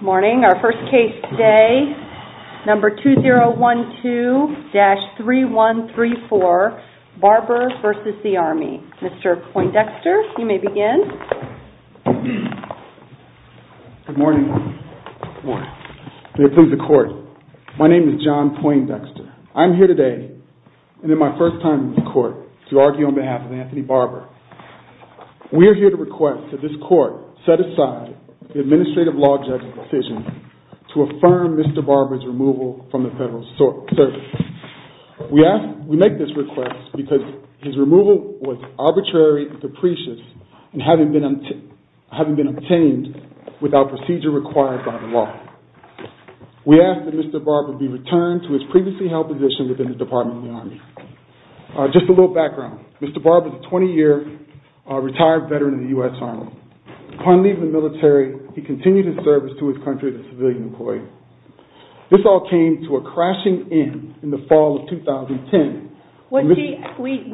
Morning. Our first case today, number 2012-3134, Barber v. the Army. Mr. Poindexter, you may begin. Good morning. May it please the Court. My name is John Poindexter. I'm here today and in my first time in the Court to argue on behalf of Anthony Barber. We are here to ask that this Court set aside the administrative law judge's decision to affirm Mr. Barber's removal from the Federal Service. We make this request because his removal was arbitrary and capricious and having been obtained without procedure required by the law. We ask that Mr. Barber be returned to his previously held position within the Department of the Army. Just a little background. Mr. Barber is a 20-year retired veteran of the U.S. Army. Upon leaving the military, he continued his service to his country as a civilian employee. This all came to a crashing end in the fall of 2010. We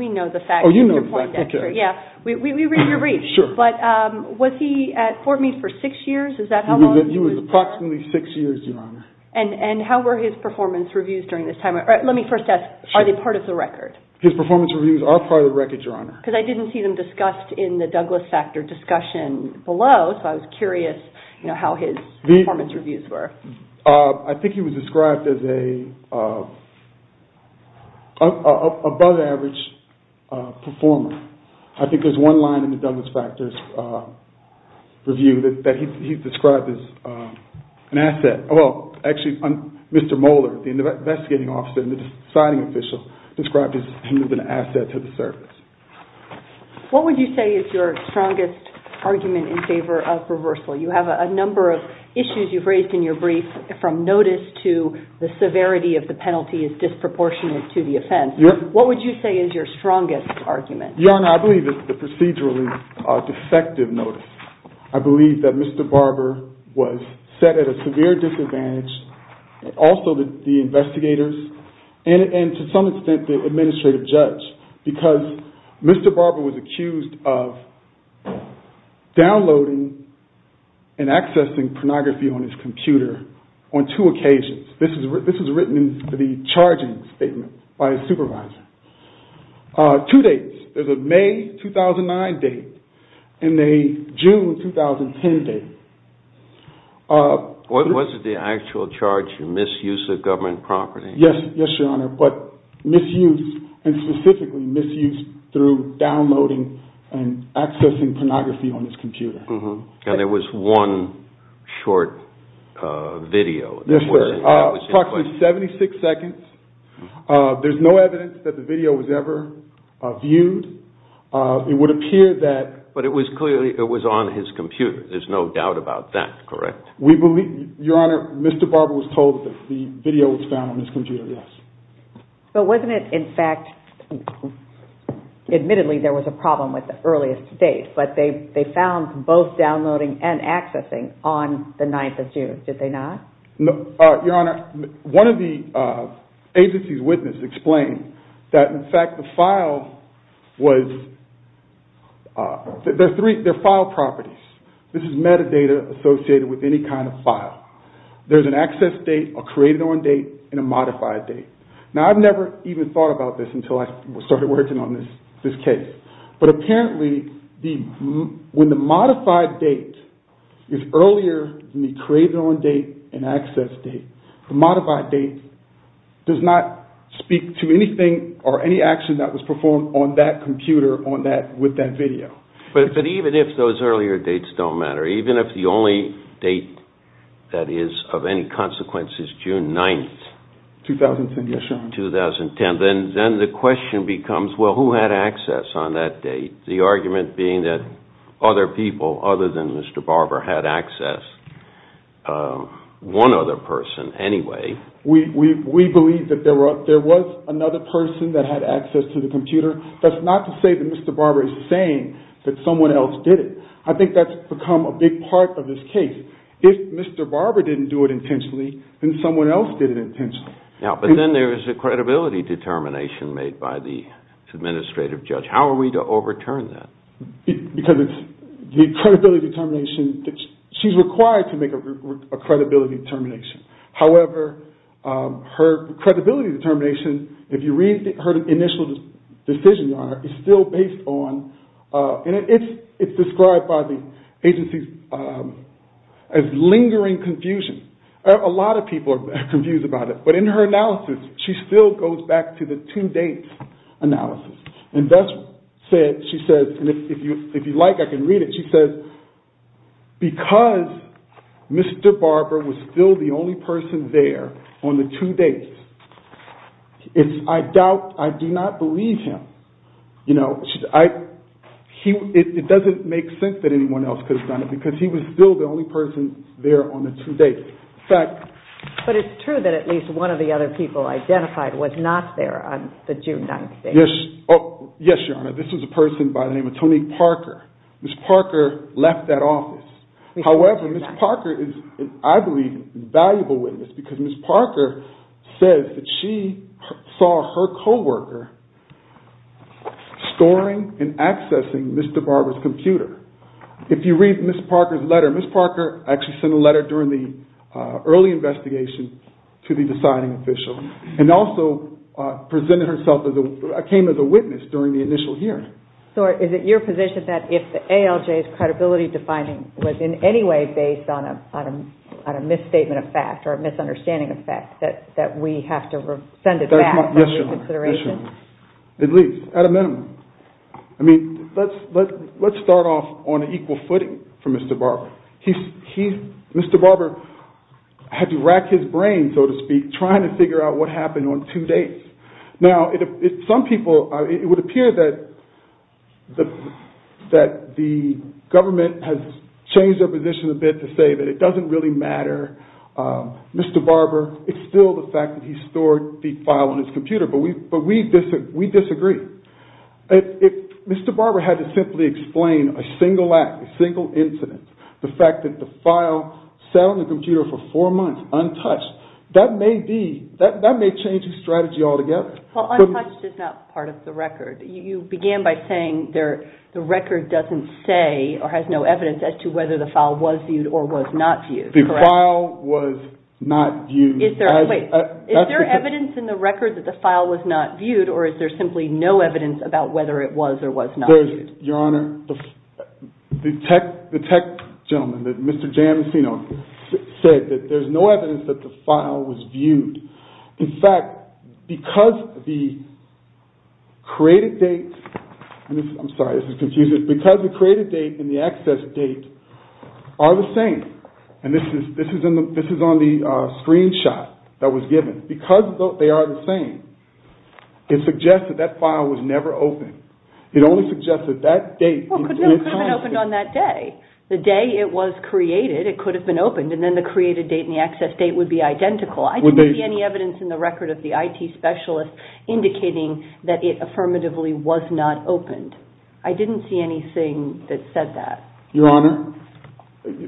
know the facts, Mr. Poindexter. You're right, but was he at Fort Meade for six years? He was approximately six years, Your Honor. And how were his performance reviews during this time? Let me first ask, are they part of the record? His performance reviews are part of the record, Your Honor. Because I didn't see them discussed in the Douglas Factor discussion below, so I was curious how his performance reviews were. I think he was described as an above average performer. I think there's one line in the Actually, Mr. Moeller, the investigating officer and the deciding official, described him as an asset to the service. What would you say is your strongest argument in favor of reversal? You have a number of issues you've raised in your brief, from notice to the severity of the penalty is disproportionate to the offense. What would you say is your strongest argument? Your Honor, I believe it's the procedurally defective notice. I believe that Mr. Barber was set at a severe disadvantage, also the investigators, and to some extent the administrative judge. Because Mr. Barber was accused of downloading and accessing pornography on his computer on two occasions. This was written in the charging statement by his supervisor. Two dates. There's a May 2009 date and a June 2010 date. Was it the actual charge of misuse of government property? Yes, Your Honor, but misuse and specifically misuse through downloading and accessing pornography on his computer. And there was one short video. Approximately 76 seconds. There's no evidence that the video was ever viewed. But it was clearly on his computer. There's no doubt about that, correct? Your Honor, Mr. Barber was told that the video was found on his computer, yes. But wasn't it in fact, admittedly there was a problem with the earliest date, but they found both downloading and accessing on the 9th of June, did they not? Your Honor, one of the agency's witnesses explained that in fact the file was, there are file properties. This is metadata associated with any kind of file. There's an access date, a created on date, and a modified date. Now I've never even thought about this until I started working on this case. But apparently when the modified date is earlier than the created on date and access date, the modified date does not speak to anything or any action that was performed on that computer with that video. But even if those earlier dates don't matter, even if the only date that is of any consequence is June 9th? 2010, yes, Your Honor. Then the question becomes, well who had access on that date? The argument being that other people other than Mr. Barber had access, one other person anyway. We believe that there was another person that had access to the computer. That's not to say that Mr. Barber is saying that someone else did it. I think that's become a big part of this case. If Mr. Barber didn't do it intentionally, then someone else did it intentionally. But then there is a credibility determination made by the administrative judge. How are we to overturn that? Because the credibility determination, she's required to make a credibility determination. However, her credibility determination, if you read her initial decision, Your Honor, is still based on, and it's described by the agencies as lingering confusion. A lot of people are confused about it. But in her analysis, she still goes back to the two dates analysis. She says, and if you like I can read it, she says, because Mr. Barber was still the only person there on the two dates, I doubt, I do not believe him. It doesn't make sense that anyone else could have done it because he was still the only person there on the two dates. But it's true that at least one of the other people identified was not there on the June 9th date. Yes, Your Honor. This was a person by the name of Tony Parker. Ms. Parker left that office. However, Ms. Parker is, I believe, a valuable witness because Ms. Parker says that she saw her co-worker storing and accessing Mr. Barber's computer. If you read Ms. Parker's letter, Ms. Parker actually sent a letter during the early investigation to the deciding official and also presented herself, came as a witness during the initial hearing. So is it your position that if the ALJ's credibility defining was in any way based on a misstatement of fact or a misunderstanding of fact, that we have to send it back under reconsideration? Yes, Your Honor. At least, at a minimum. I mean, let's start off on an equal footing for Mr. Barber. Mr. Barber had to rack his brain, so to speak, trying to figure out what happened on two dates. Now, some people, it would appear that the government has changed their position a bit to say that it doesn't really matter. Mr. Barber, it's still the fact that he stored the file on his computer, but we disagree. Mr. Barber had to simply explain a single act, a single incident, the fact that the file sat on the computer for four months untouched. That may change his strategy altogether. Well, untouched is not part of the record. You began by saying the record doesn't say or has no evidence as to whether the file was viewed or was not viewed. The file was not viewed. Wait. Is there evidence in the record that the file was not viewed, or is there simply no evidence about whether it was or was not viewed? Your Honor, the tech gentleman, Mr. Jamesino, said that there's no evidence that the file was viewed. In fact, because the created date and the access date are the same, and this is on the screenshot that was given, because they are the same, it suggests that that file was never opened. It only suggests that that date is constant. Well, it could have been opened on that day. The day it was created, it could have been opened, and then the created date and the access date would be identical. I didn't see any evidence in the record of the IT specialist indicating that it affirmatively was not opened. I didn't see anything that said that. Your Honor,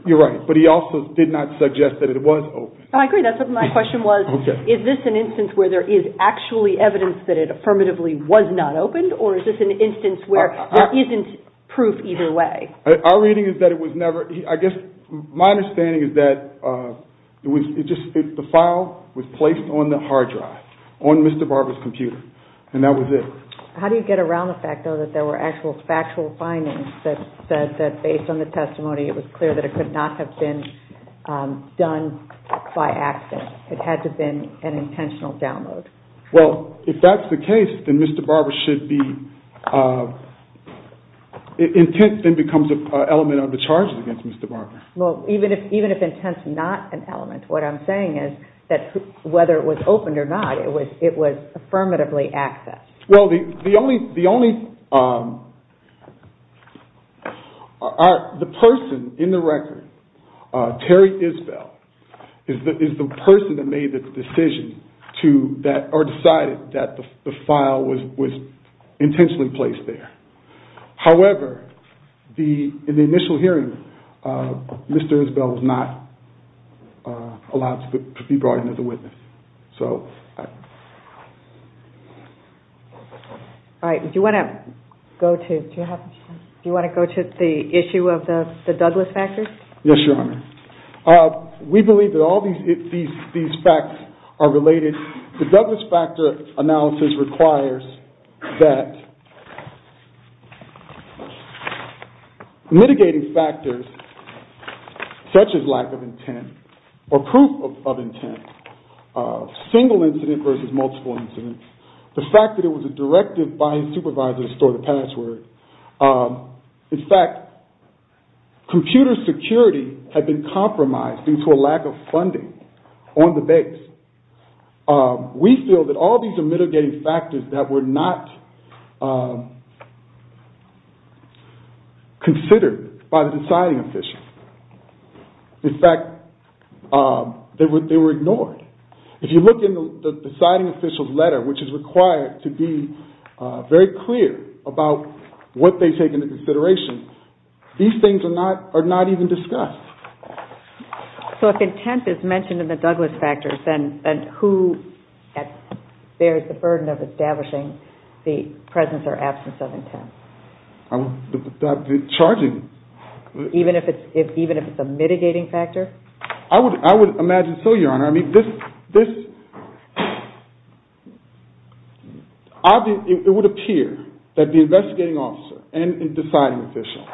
you're right, but he also did not suggest that it was opened. I agree. That's what my question was. Is this an instance where there is actually evidence that it affirmatively was not opened, or is this an instance where there isn't proof either way? Our reading is that it was never – I guess my understanding is that the file was placed on the hard drive, on Mr. Barber's computer, and that was it. How do you get around the fact, though, that there were actual factual findings that said that, based on the testimony, it was clear that it could not have been done by accident? It had to have been an intentional download. Well, if that's the case, then Mr. Barber should be – intent then becomes an element of the charges against Mr. Barber. Well, even if intent's not an element, what I'm saying is that whether it was opened or not, it was affirmatively accessed. Well, the only – the person in the record, Terry Isbell, is the person that made the decision to – or decided that the file was intentionally placed there. However, in the initial hearing, Mr. Isbell was not allowed to be brought in as a witness. All right. Do you want to go to – do you want to go to the issue of the Douglas factors? Yes, Your Honor. We believe that all these facts are related. The Douglas factor analysis requires that mitigating factors such as lack of intent or proof of intent, single incident versus multiple incidents, the fact that it was a directive by a supervisor to store the password. In fact, computer security had been compromised due to a lack of funding on the base. We feel that all these are mitigating factors that were not considered by the deciding official. In fact, they were ignored. If you look in the deciding official's letter, which is required to be very clear about what they take into consideration, these things are not even discussed. So if intent is mentioned in the Douglas factors, then who bears the burden of establishing the presence or absence of intent? The charging. Even if it's a mitigating factor? I would imagine so, Your Honor. I mean, this – it would appear that the investigating officer and the deciding official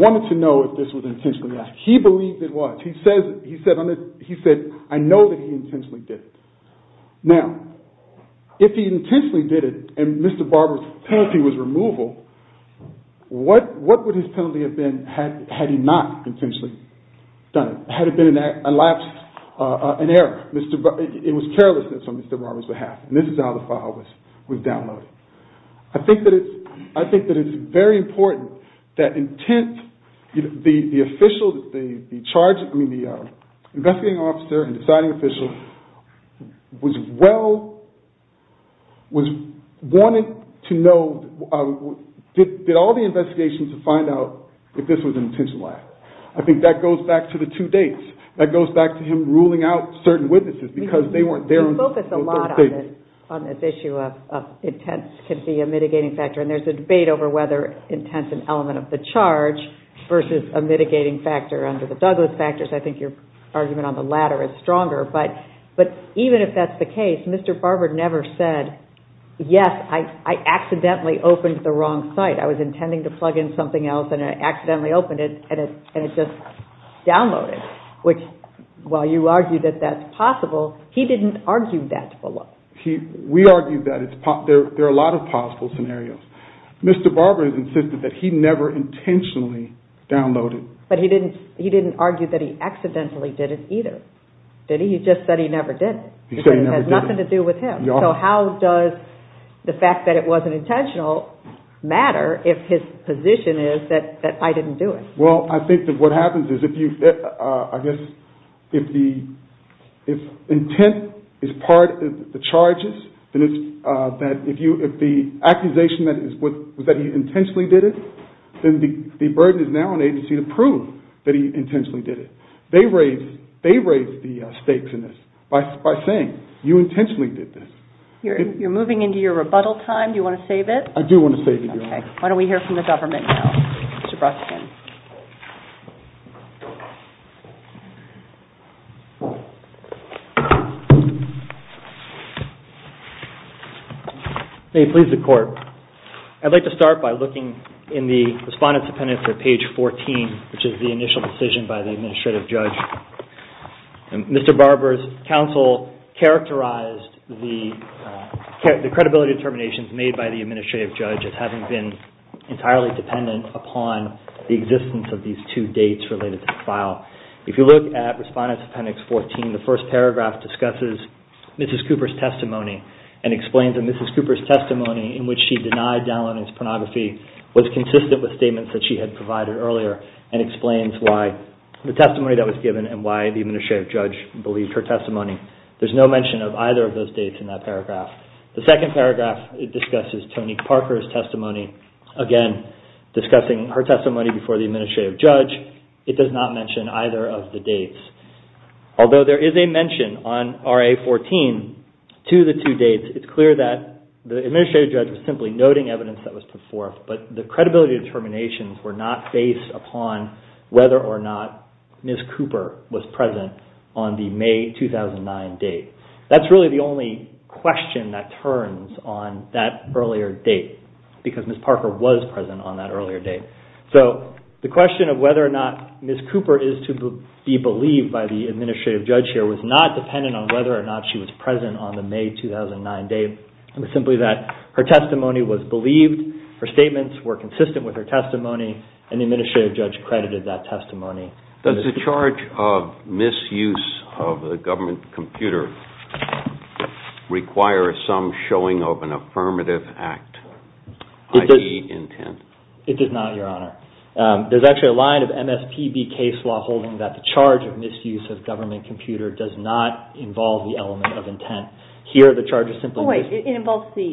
wanted to know if this was an intentional act. He believed it was. He said, I know that he intentionally did it. Now, if he intentionally did it and Mr. Barber's penalty was removal, what would his penalty have been had he not intentionally done it? Had it been an act, an lapse, an error? It was carelessness on Mr. Barber's behalf. And this is how the file was downloaded. I think that it's – I think that it's very important that intent – the official, the charge – I mean, the investigating officer and deciding official was well – was – wanted to know – did all the investigations to find out if this was an intentional act. I think that goes back to the two dates. That goes back to him ruling out certain witnesses because they weren't there. You focus a lot on this issue of intent can be a mitigating factor. And there's a debate over whether intent's an element of the charge versus a mitigating factor under the Douglas factors. I think your argument on the latter is stronger. But even if that's the case, Mr. Barber never said, yes, I accidentally opened the wrong site. I was intending to plug in something else and I accidentally opened it and it just downloaded, which, while you argue that that's possible, he didn't argue that below. He – we argued that it's – there are a lot of possible scenarios. Mr. Barber insisted that he never intentionally downloaded. But he didn't – he didn't argue that he accidentally did it either, did he? He just said he never did it. He said he never did it. Because it has nothing to do with him. So how does the fact that it wasn't intentional matter if his position is that I didn't do it? Well, I think that what happens is if you – I guess if the – if intent is part of the charges, then it's that if you – if the accusation is that he intentionally did it, then the burden is now on the agency to prove that he intentionally did it. They raise – they raise the stakes in this by saying you intentionally did this. You're moving into your rebuttal time. Do you want to save it? I do want to save it, Your Honor. Okay. Why don't we hear from the government now? Mr. Breskin. May it please the Court. I'd like to start by looking in the Respondent's Appendix at page 14, which is the initial decision by the administrative judge. Mr. Barber's counsel characterized the credibility determinations made by the administrative judge as having been entirely dependent upon the existence of these two dates related to the file. If you look at Respondent's Appendix 14, the first paragraph discusses Mrs. Cooper's testimony and explains that Mrs. Cooper's testimony in which she denied downloading pornography was consistent with statements that she had provided earlier and explains why the testimony that was given and why the administrative judge believed her testimony. There's no mention of either of those dates in that paragraph. The second paragraph discusses Tony Parker's testimony, again discussing her testimony before the administrative judge. It does not mention either of the dates. Although there is a mention on RA 14 to the two dates, it's clear that the administrative judge was simply noting evidence that was put forth, but the credibility determinations were not based upon whether or not Mrs. Cooper was present on the May 2009 date. That's really the only question that turns on that earlier date because Mrs. Parker was present on that earlier date. So the question of whether or not Mrs. Cooper is to be believed by the administrative judge here was not dependent on whether or not she was present on the May 2009 date. It was simply that her testimony was believed, her statements were consistent with her testimony, and the administrative judge credited that testimony. Does the charge of misuse of a government computer require some showing of an affirmative act, i.e. intent? It does not, Your Honor. There's actually a line of MSPB case law holding that the charge of misuse of government computer does not involve the element of intent. Here the charge is simply misuse. It involves the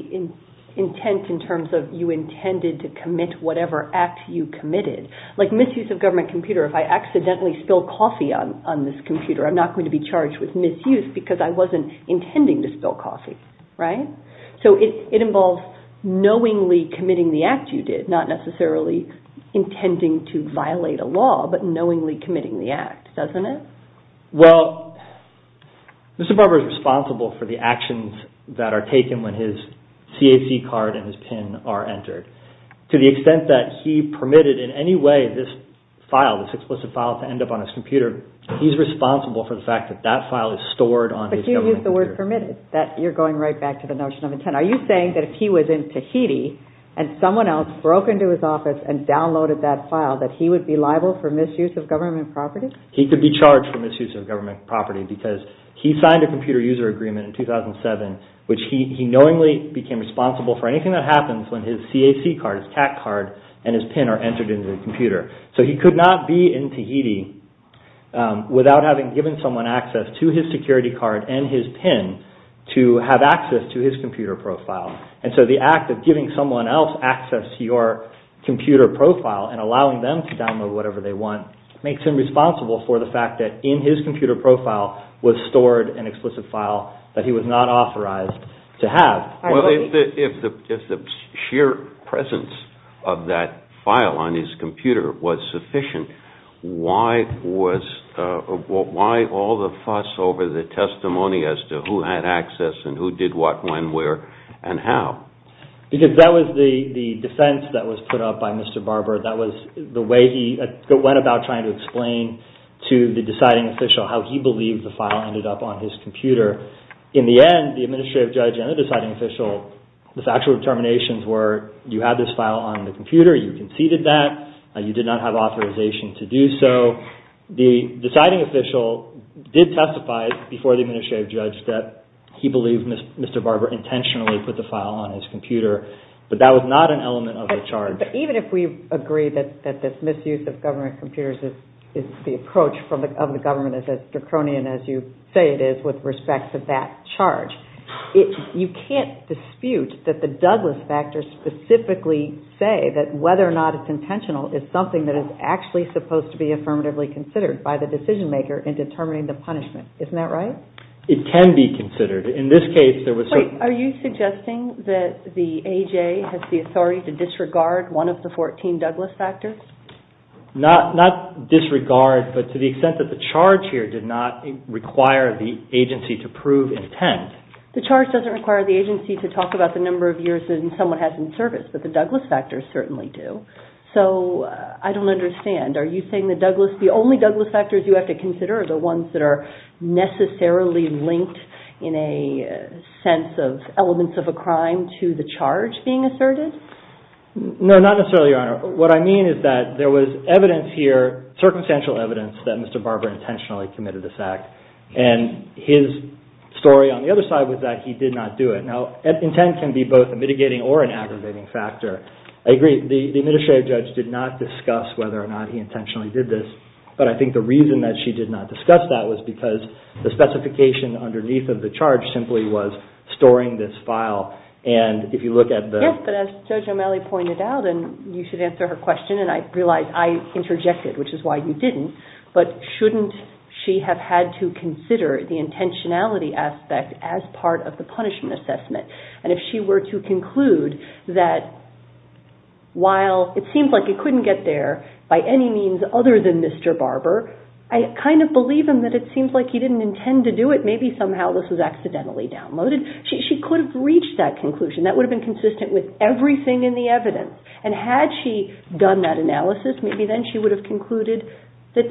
intent in terms of you intended to commit whatever act you committed. Like misuse of government computer, if I accidentally spill coffee on this computer, I'm not going to be charged with misuse because I wasn't intending to spill coffee, right? So it involves knowingly committing the act you did, not necessarily intending to violate a law, but knowingly committing the act, doesn't it? Well, Mr. Barber is responsible for the actions that are taken when his CAC card and his PIN are entered. To the extent that he permitted in any way this file, this explicit file, to end up on his computer, he's responsible for the fact that that file is stored on his government computer. But you used the word permitted. You're going right back to the notion of intent. Are you saying that if he was in Tahiti and someone else broke into his office and downloaded that file, that he would be liable for misuse of government property? He could be charged for misuse of government property because he signed a computer user agreement in 2007, which he knowingly became responsible for anything that happens when his CAC card, his CAC card, and his PIN are entered into the computer. So he could not be in Tahiti without having given someone access to his security card and his PIN to have access to his computer profile. And so the act of giving someone else access to your computer profile and allowing them to download whatever they want makes him responsible for the fact that in his computer profile was stored an explicit file that he was not authorized to have. Well, if the sheer presence of that file on his computer was sufficient, why all the fuss over the testimony as to who had access and who did what, when, where, and how? Because that was the defense that was put up by Mr. Barber. That was the way he went about trying to explain to the deciding official how he believed the file ended up on his computer. In the end, the administrative judge and the deciding official, the factual determinations were you had this file on the computer, you conceded that, you did not have authorization to do so. The deciding official did testify before the administrative judge that he believed Mr. Barber intentionally put the file on his computer, but that was not an element of the charge. But even if we agree that this misuse of government computers, the approach of the government is as draconian as you say it is with respect to that charge, you can't dispute that the Douglas factors specifically say that whether or not it's intentional is something that is actually supposed to be affirmatively considered by the decision maker in determining the punishment. Isn't that right? It can be considered. Are you suggesting that the AJ has the authority to disregard one of the 14 Douglas factors? Not disregard, but to the extent that the charge here did not require the agency to prove intent. The charge doesn't require the agency to talk about the number of years that someone has in service, but the Douglas factors certainly do. So I don't understand. Are the ones that are necessarily linked in a sense of elements of a crime to the charge being asserted? No, not necessarily, Your Honor. What I mean is that there was evidence here, circumstantial evidence that Mr. Barber intentionally committed this act, and his story on the other side was that he did not do it. Now, intent can be both a mitigating or an aggravating factor. I agree, the administrative judge did not discuss whether or not he intentionally did this, but I think the reason that she did not discuss that was because the specification underneath of the charge simply was storing this file, and if you look at the… Yes, but as Judge O'Malley pointed out, and you should answer her question, and I realize I interjected, which is why you didn't, but shouldn't she have had to consider the intentionality aspect as part of the punishment assessment? And if she were to conclude that while it seems like it couldn't get there by any means other than Mr. Barber, I kind of believe him that it seems like he didn't intend to do it. Maybe somehow this was accidentally downloaded. She could have reached that conclusion. That would have been consistent with everything in the evidence, and had she done that analysis, maybe then she would have concluded that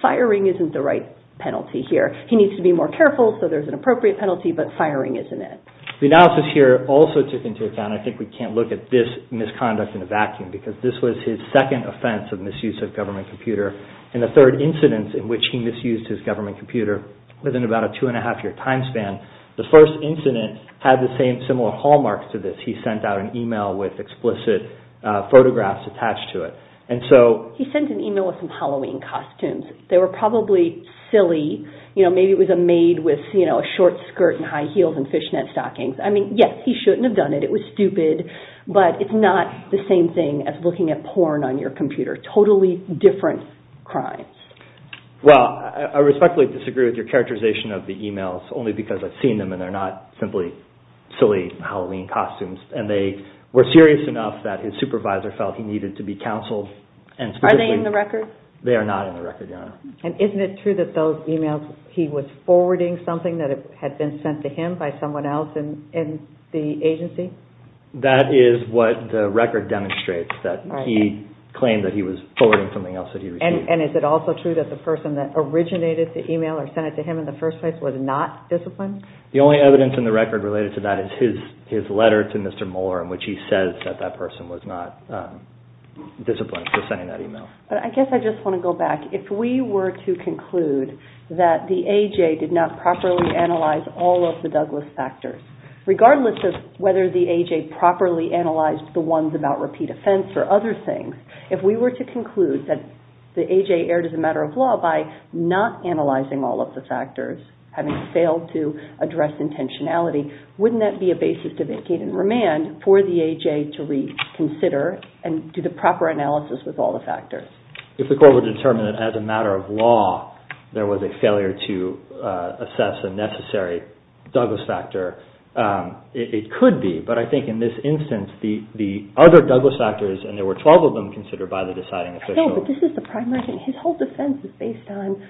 firing isn't the right penalty here. He needs to be more careful, so there's an appropriate penalty, but firing isn't it. The analysis here also took into account, I think we can't look at this misconduct in a vacuum, because this was his second offense of misuse of government computer, and the third incident in which he misused his government computer within about a two-and-a-half-year time span. The first incident had the same similar hallmarks to this. He sent out an email with explicit photographs attached to it. He sent an email with some Halloween costumes. They were probably silly. Maybe it was a maid with a short skirt and high heels and fishnet stockings. I mean, yes, he shouldn't have done it. It was stupid, but it's not the same thing as looking at porn on your computer. Totally different crimes. Well, I respectfully disagree with your characterization of the emails, only because I've seen them and they're not simply silly Halloween costumes. And they were serious enough that his supervisor felt he needed to be counseled. Are they in the record? They are not in the record, Your Honor. And isn't it true that those emails, he was forwarding something that had been sent to him by someone else in the agency? That is what the record demonstrates, that he claimed that he was forwarding something else that he received. And is it also true that the person that originated the email or sent it to him in the first place was not disciplined? The only evidence in the record related to that is his letter to Mr. Moore in which he says that that person was not disciplined for sending that email. But I guess I just want to go back. If we were to conclude that the A.J. did not properly analyze all of the Douglas factors, regardless of whether the A.J. properly analyzed the ones about repeat offense or other things, if we were to conclude that the A.J. erred as a matter of law by not analyzing all of the factors, having failed to address intentionality, wouldn't that be a basis to vacate and remand for the A.J. to reconsider and do the proper analysis with all the factors? If the court were to determine that as a matter of law there was a failure to assess a necessary Douglas factor, it could be. But I think in this instance, the other Douglas factors, and there were 12 of them considered by the deciding official. I know, but this is the primary thing. His whole defense is based on,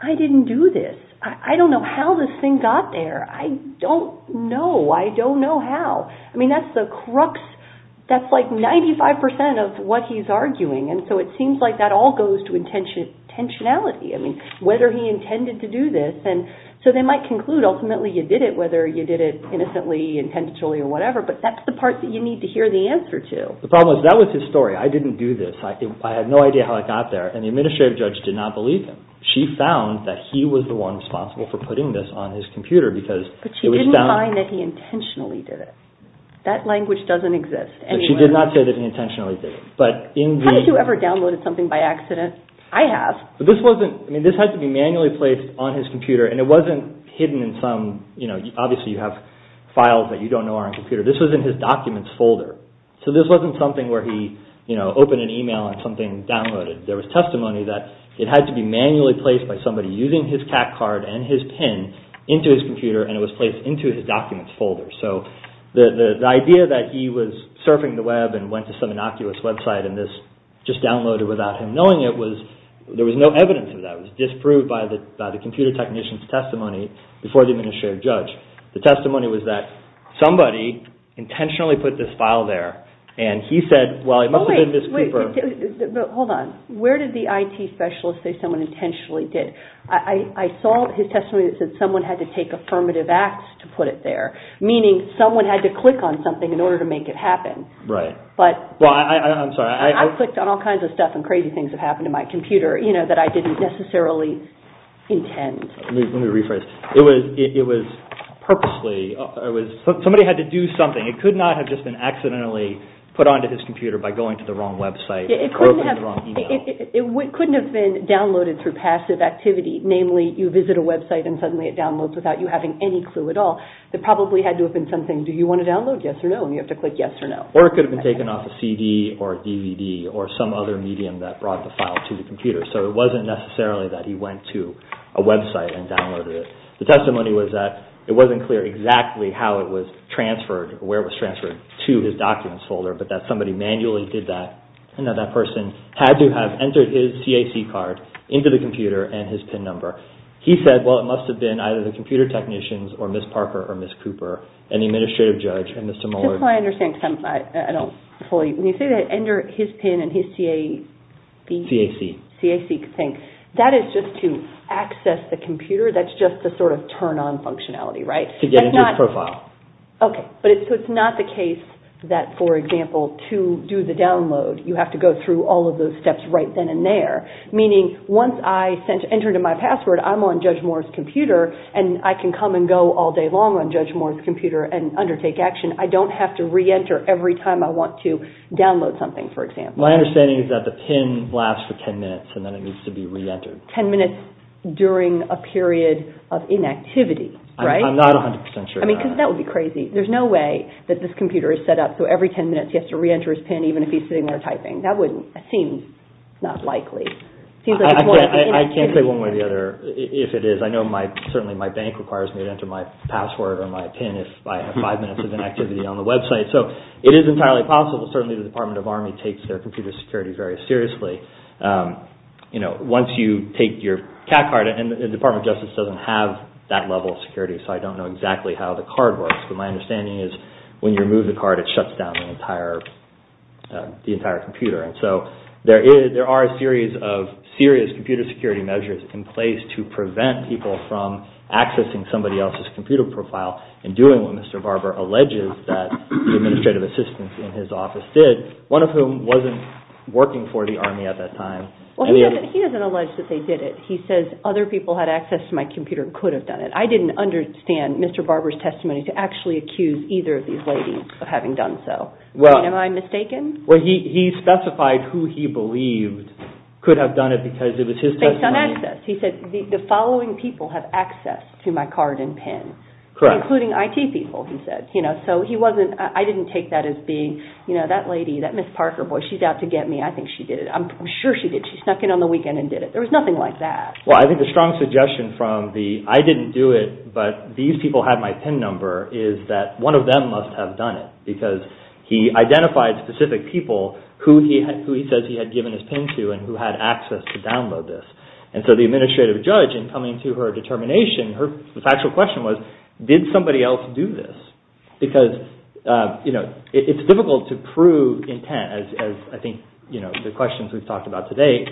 I didn't do this. I don't know how this thing got there. I don't know. I don't know how. I mean, that's the crux. That's like 95% of what he's arguing, and so it seems like that all goes to intentionality. I mean, whether he intended to do this. And so they might conclude ultimately you did it, whether you did it innocently, intentionally, or whatever, but that's the part that you need to hear the answer to. The problem is that was his story. I didn't do this. I had no idea how I got there, and the administrative judge did not believe him. She found that he was the one responsible for putting this on his computer because it was found. But she didn't find that he intentionally did it. That language doesn't exist anywhere. She did not say that he intentionally did it. How many of you ever downloaded something by accident? I have. But this wasn't, I mean, this had to be manually placed on his computer, and it wasn't hidden in some, you know, obviously you have files that you don't know are on a computer. This was in his documents folder. So this wasn't something where he, you know, opened an email and something downloaded. There was testimony that it had to be manually placed by somebody using his CAT card and his PIN into his computer, and it was placed into his documents folder. So the idea that he was surfing the web and went to some innocuous website and this just downloaded without him knowing it was, there was no evidence of that. It was disproved by the computer technician's testimony before the administrative judge. The testimony was that somebody intentionally put this file there, and he said, Well, it must have been Ms. Cooper. Hold on. Where did the IT specialist say someone intentionally did? I saw his testimony that said someone had to take affirmative acts to put it there, meaning someone had to click on something in order to make it happen. Right. I'm sorry. I clicked on all kinds of stuff and crazy things have happened to my computer, you know, that I didn't necessarily intend. Let me rephrase. It was purposely, somebody had to do something. It could not have just been accidentally put onto his computer by going to the wrong website or the wrong email. It couldn't have been downloaded through passive activity. Namely, you visit a website and suddenly it downloads without you having any clue at all. It probably had to have been something, Do you want to download? Yes or no. And you have to click yes or no. Or it could have been taken off a CD or DVD or some other medium that brought the file to the computer. So it wasn't necessarily that he went to a website and downloaded it. The testimony was that it wasn't clear exactly how it was transferred, where it was transferred to his documents folder, but that somebody manually did that and that that person had to have entered his CAC card into the computer and his PIN number. He said, well, it must have been either the computer technicians or Ms. Parker or Ms. Cooper and the administrative judge and Mr. Mueller. Just so I understand, because I don't fully. When you say that enter his PIN and his CAC, that is just to access the computer? That's just to sort of turn on functionality, right? To get into his profile. Okay. So it's not the case that, for example, to do the download, you have to go through all of those steps right then and there. Meaning, once I enter my password, I'm on Judge Moore's computer and I can come and go all day long on Judge Moore's computer and undertake action. I don't have to re-enter every time I want to download something, for example. My understanding is that the PIN lasts for 10 minutes and then it needs to be re-entered. 10 minutes during a period of inactivity, right? I'm not 100% sure. I mean, because that would be crazy. There's no way that this computer is set up so every 10 minutes he has to re-enter his PIN, even if he's sitting there typing. That seems not likely. I can't say one way or the other if it is. I know certainly my bank requires me to enter my password or my PIN if I have five minutes of inactivity on the website. So it is entirely possible. Certainly the Department of Army takes their computer security very seriously. Once you take your CAD card and the Department of Justice doesn't have that level of security so I don't know exactly how the card works. But my understanding is when you remove the card, it shuts down the entire computer. And so there are a series of serious computer security measures in place to prevent people from accessing somebody else's computer profile and doing what Mr. Barber alleges that the administrative assistant in his office did, one of whom wasn't working for the Army at that time. Well, he doesn't allege that they did it. He says other people had access to my computer and could have done it. I didn't understand Mr. Barber's testimony to actually accuse either of these ladies of having done so. Am I mistaken? Well, he specified who he believed could have done it because it was his testimony. Based on access. He said the following people have access to my card and PIN, including IT people, he said. I didn't take that as being, you know, that lady, that Miss Parker, boy, she's out to get me. I think she did it. I'm sure she did. She snuck in on the weekend and did it. There was nothing like that. Well, I think the strong suggestion from the I didn't do it but these people had my PIN number is that one of them must have done it because he identified specific people who he says he had given his PIN to and who had access to download this. And so the administrative judge, in coming to her determination, her factual question was did somebody else do this? Because, you know, it's difficult to prove intent as I think, you know, the questions we've talked about today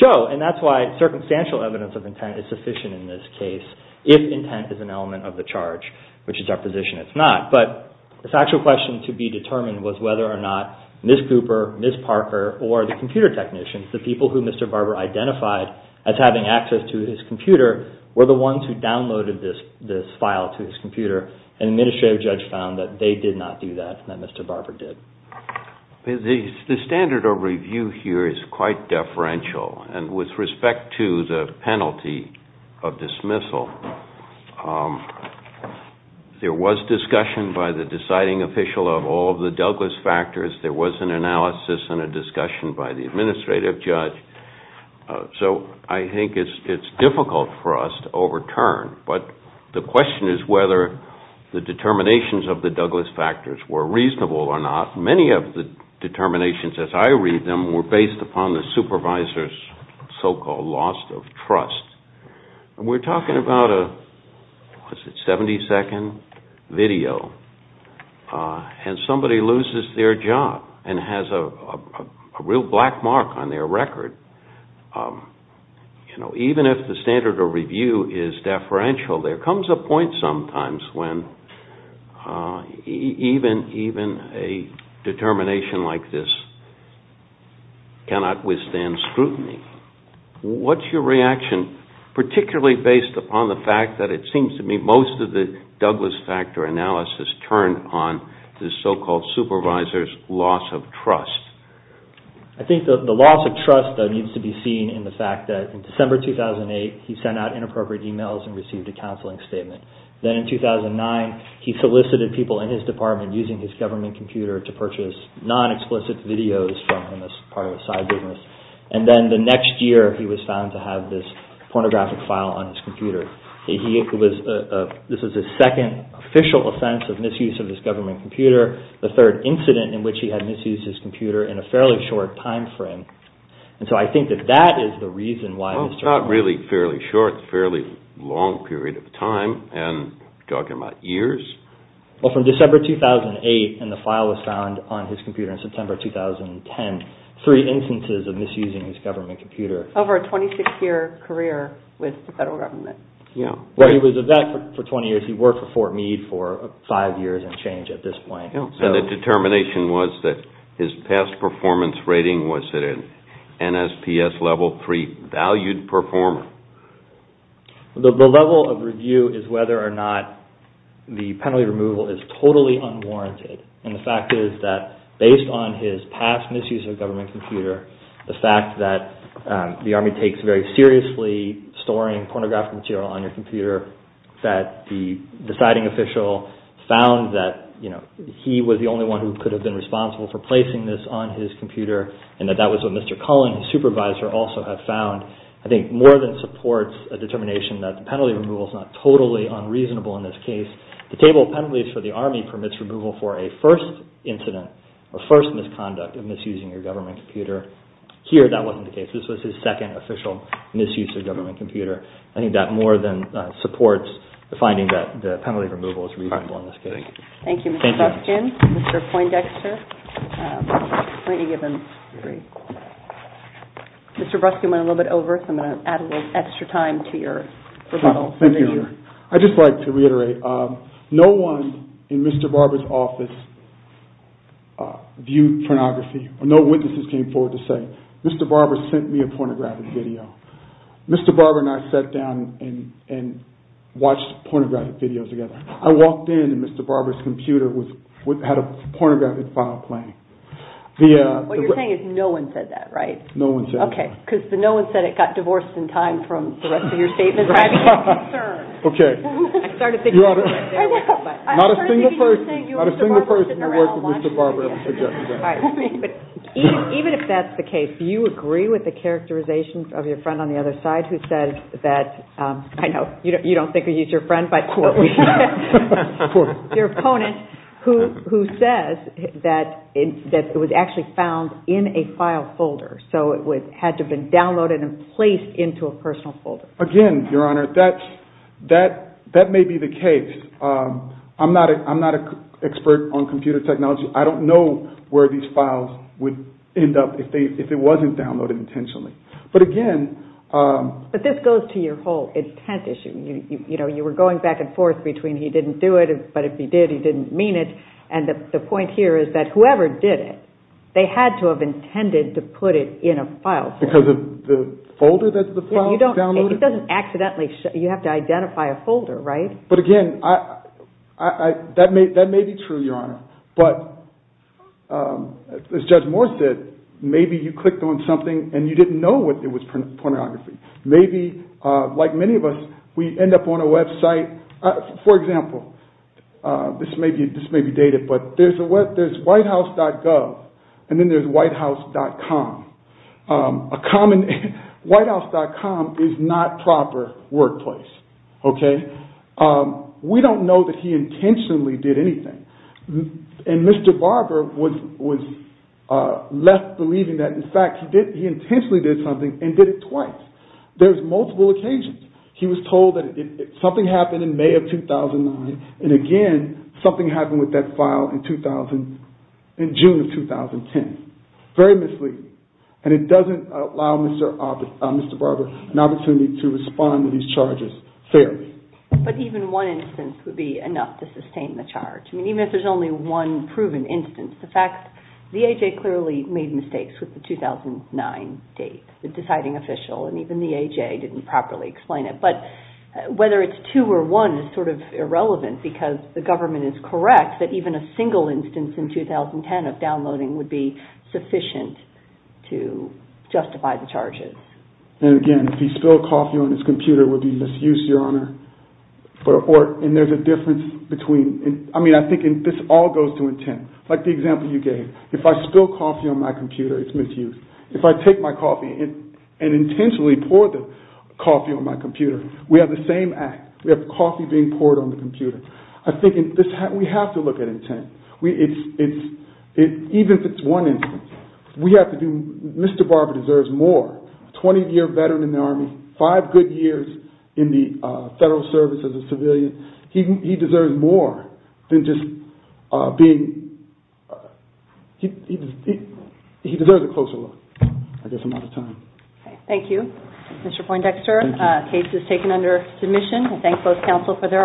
show. And that's why circumstantial evidence of intent is sufficient in this case if intent is an element of the charge, which is our position it's not. But the factual question to be determined was whether or not Miss Cooper, Miss Parker, or the computer technicians, the people who Mr. Barber identified as having access to his computer, were the ones who downloaded this file to his computer and the administrative judge found that they did not do that and that Mr. Barber did. The standard of review here is quite deferential. And with respect to the penalty of dismissal, there was discussion by the deciding official of all of the Douglas factors. There was an analysis and a discussion by the administrative judge. So I think it's difficult for us to overturn. But the question is whether the determinations of the Douglas factors were reasonable or not. Many of the determinations as I read them were based upon the supervisor's so-called loss of trust. And we're talking about a, what is it, 70-second video. And somebody loses their job and has a real black mark on their record. Even if the standard of review is deferential, there comes a point sometimes when even a determination like this cannot withstand scrutiny. What's your reaction, particularly based upon the fact that it seems to me that most of the Douglas factor analysis turned on the so-called supervisor's loss of trust? I think the loss of trust needs to be seen in the fact that in December 2008, he sent out inappropriate emails and received a counseling statement. Then in 2009, he solicited people in his department using his government computer to purchase non-explicit videos from him as part of a side business. And then the next year, he was found to have this pornographic file on his computer. This is his second official offense of misuse of his government computer, the third incident in which he had misused his computer in a fairly short time frame. And so I think that that is the reason why Mr. Well, not really fairly short, fairly long period of time. And you're talking about years? Well, from December 2008, and the file was found on his computer in September 2010, three instances of misusing his government computer. Over a 26-year career with the federal government. Yeah. Well, he was a vet for 20 years. He worked for Fort Meade for five years and changed at this point. And the determination was that his past performance rating was at an NSPS level three valued performer. The level of review is whether or not the penalty removal is totally unwarranted. And the fact is that based on his past misuse of government computer, the fact that the Army takes very seriously storing pornographic material on your computer, that the deciding official found that, you know, he was the only one who could have been responsible for placing this on his computer, and that that was what Mr. Cullen, his supervisor, also had found, I think more than supports a determination that the penalty removal is not totally unreasonable in this case. The table of penalties for the Army permits removal for a first incident, a first misconduct of misusing your government computer. Here, that wasn't the case. This was his second official misuse of government computer. I think that more than supports the finding that the penalty removal is reasonable in this case. Thank you. Thank you, Mr. Breskin. Mr. Poindexter. Mr. Breskin went a little bit over, so I'm going to add a little extra time to your rebuttal. Thank you. I'd just like to reiterate. No one in Mr. Barber's office viewed pornography. No witnesses came forward to say, Mr. Barber sent me a pornographic video. Mr. Barber and I sat down and watched pornographic videos together. I walked in, and Mr. Barber's computer had a pornographic file playing. What you're saying is no one said that, right? No one said that. Okay, because the no one said it got divorced in time from the rest of your statements. I'm concerned. Okay. I'm sorry to think you were there. I was. Not a single person. Not a single person who worked with Mr. Barber ever suggested that. Even if that's the case, do you agree with the characterization of your friend on the other side who said that, I know you don't think he's your friend, but your opponent, who says that it was actually found in a file folder, so it had to have been downloaded and placed into a personal folder. Again, Your Honor, that may be the case. I'm not an expert on computer technology. I don't know where these files would end up if it wasn't downloaded intentionally. But again… But this goes to your whole intent issue. You were going back and forth between he didn't do it, but if he did, he didn't mean it. And the point here is that whoever did it, they had to have intended to put it in a file folder. Because of the folder that the file was downloaded? It doesn't accidentally. You have to identify a folder, right? But again, that may be true, Your Honor. But as Judge Moore said, maybe you clicked on something and you didn't know it was pornography. Maybe, like many of us, we end up on a website. For example, this may be dated, but there's whitehouse.gov and then there's whitehouse.com. Whitehouse.com is not proper workplace. Okay? We don't know that he intentionally did anything. And Mr. Barber was left believing that, in fact, he intentionally did something and did it twice. There's multiple occasions. He was told that something happened in May of 2009, and again, something happened with that file in June of 2010. Very misleading. And it doesn't allow Mr. Barber an opportunity to respond to these charges fairly. But even one instance would be enough to sustain the charge. I mean, even if there's only one proven instance. In fact, the A.J. clearly made mistakes with the 2009 date, the deciding official. And even the A.J. didn't properly explain it. But whether it's two or one is sort of irrelevant because the government is correct that even a single instance in 2010 of downloading would be sufficient to justify the charges. And again, if he spilled coffee on his computer, it would be misuse, Your Honor. And there's a difference between – I mean, I think this all goes to intent. Like the example you gave. If I spill coffee on my computer, it's misuse. If I take my coffee and intentionally pour the coffee on my computer, we have the same act. We have coffee being poured on the computer. I think we have to look at intent. Even if it's one instance, we have to do – Mr. Barber deserves more. A 20-year veteran in the Army, five good years in the Federal Service as a civilian. He deserves more than just being – he deserves a closer look. I guess I'm out of time. Thank you. Mr. Poindexter, the case is taken under submission. I thank both counsel for their arguments.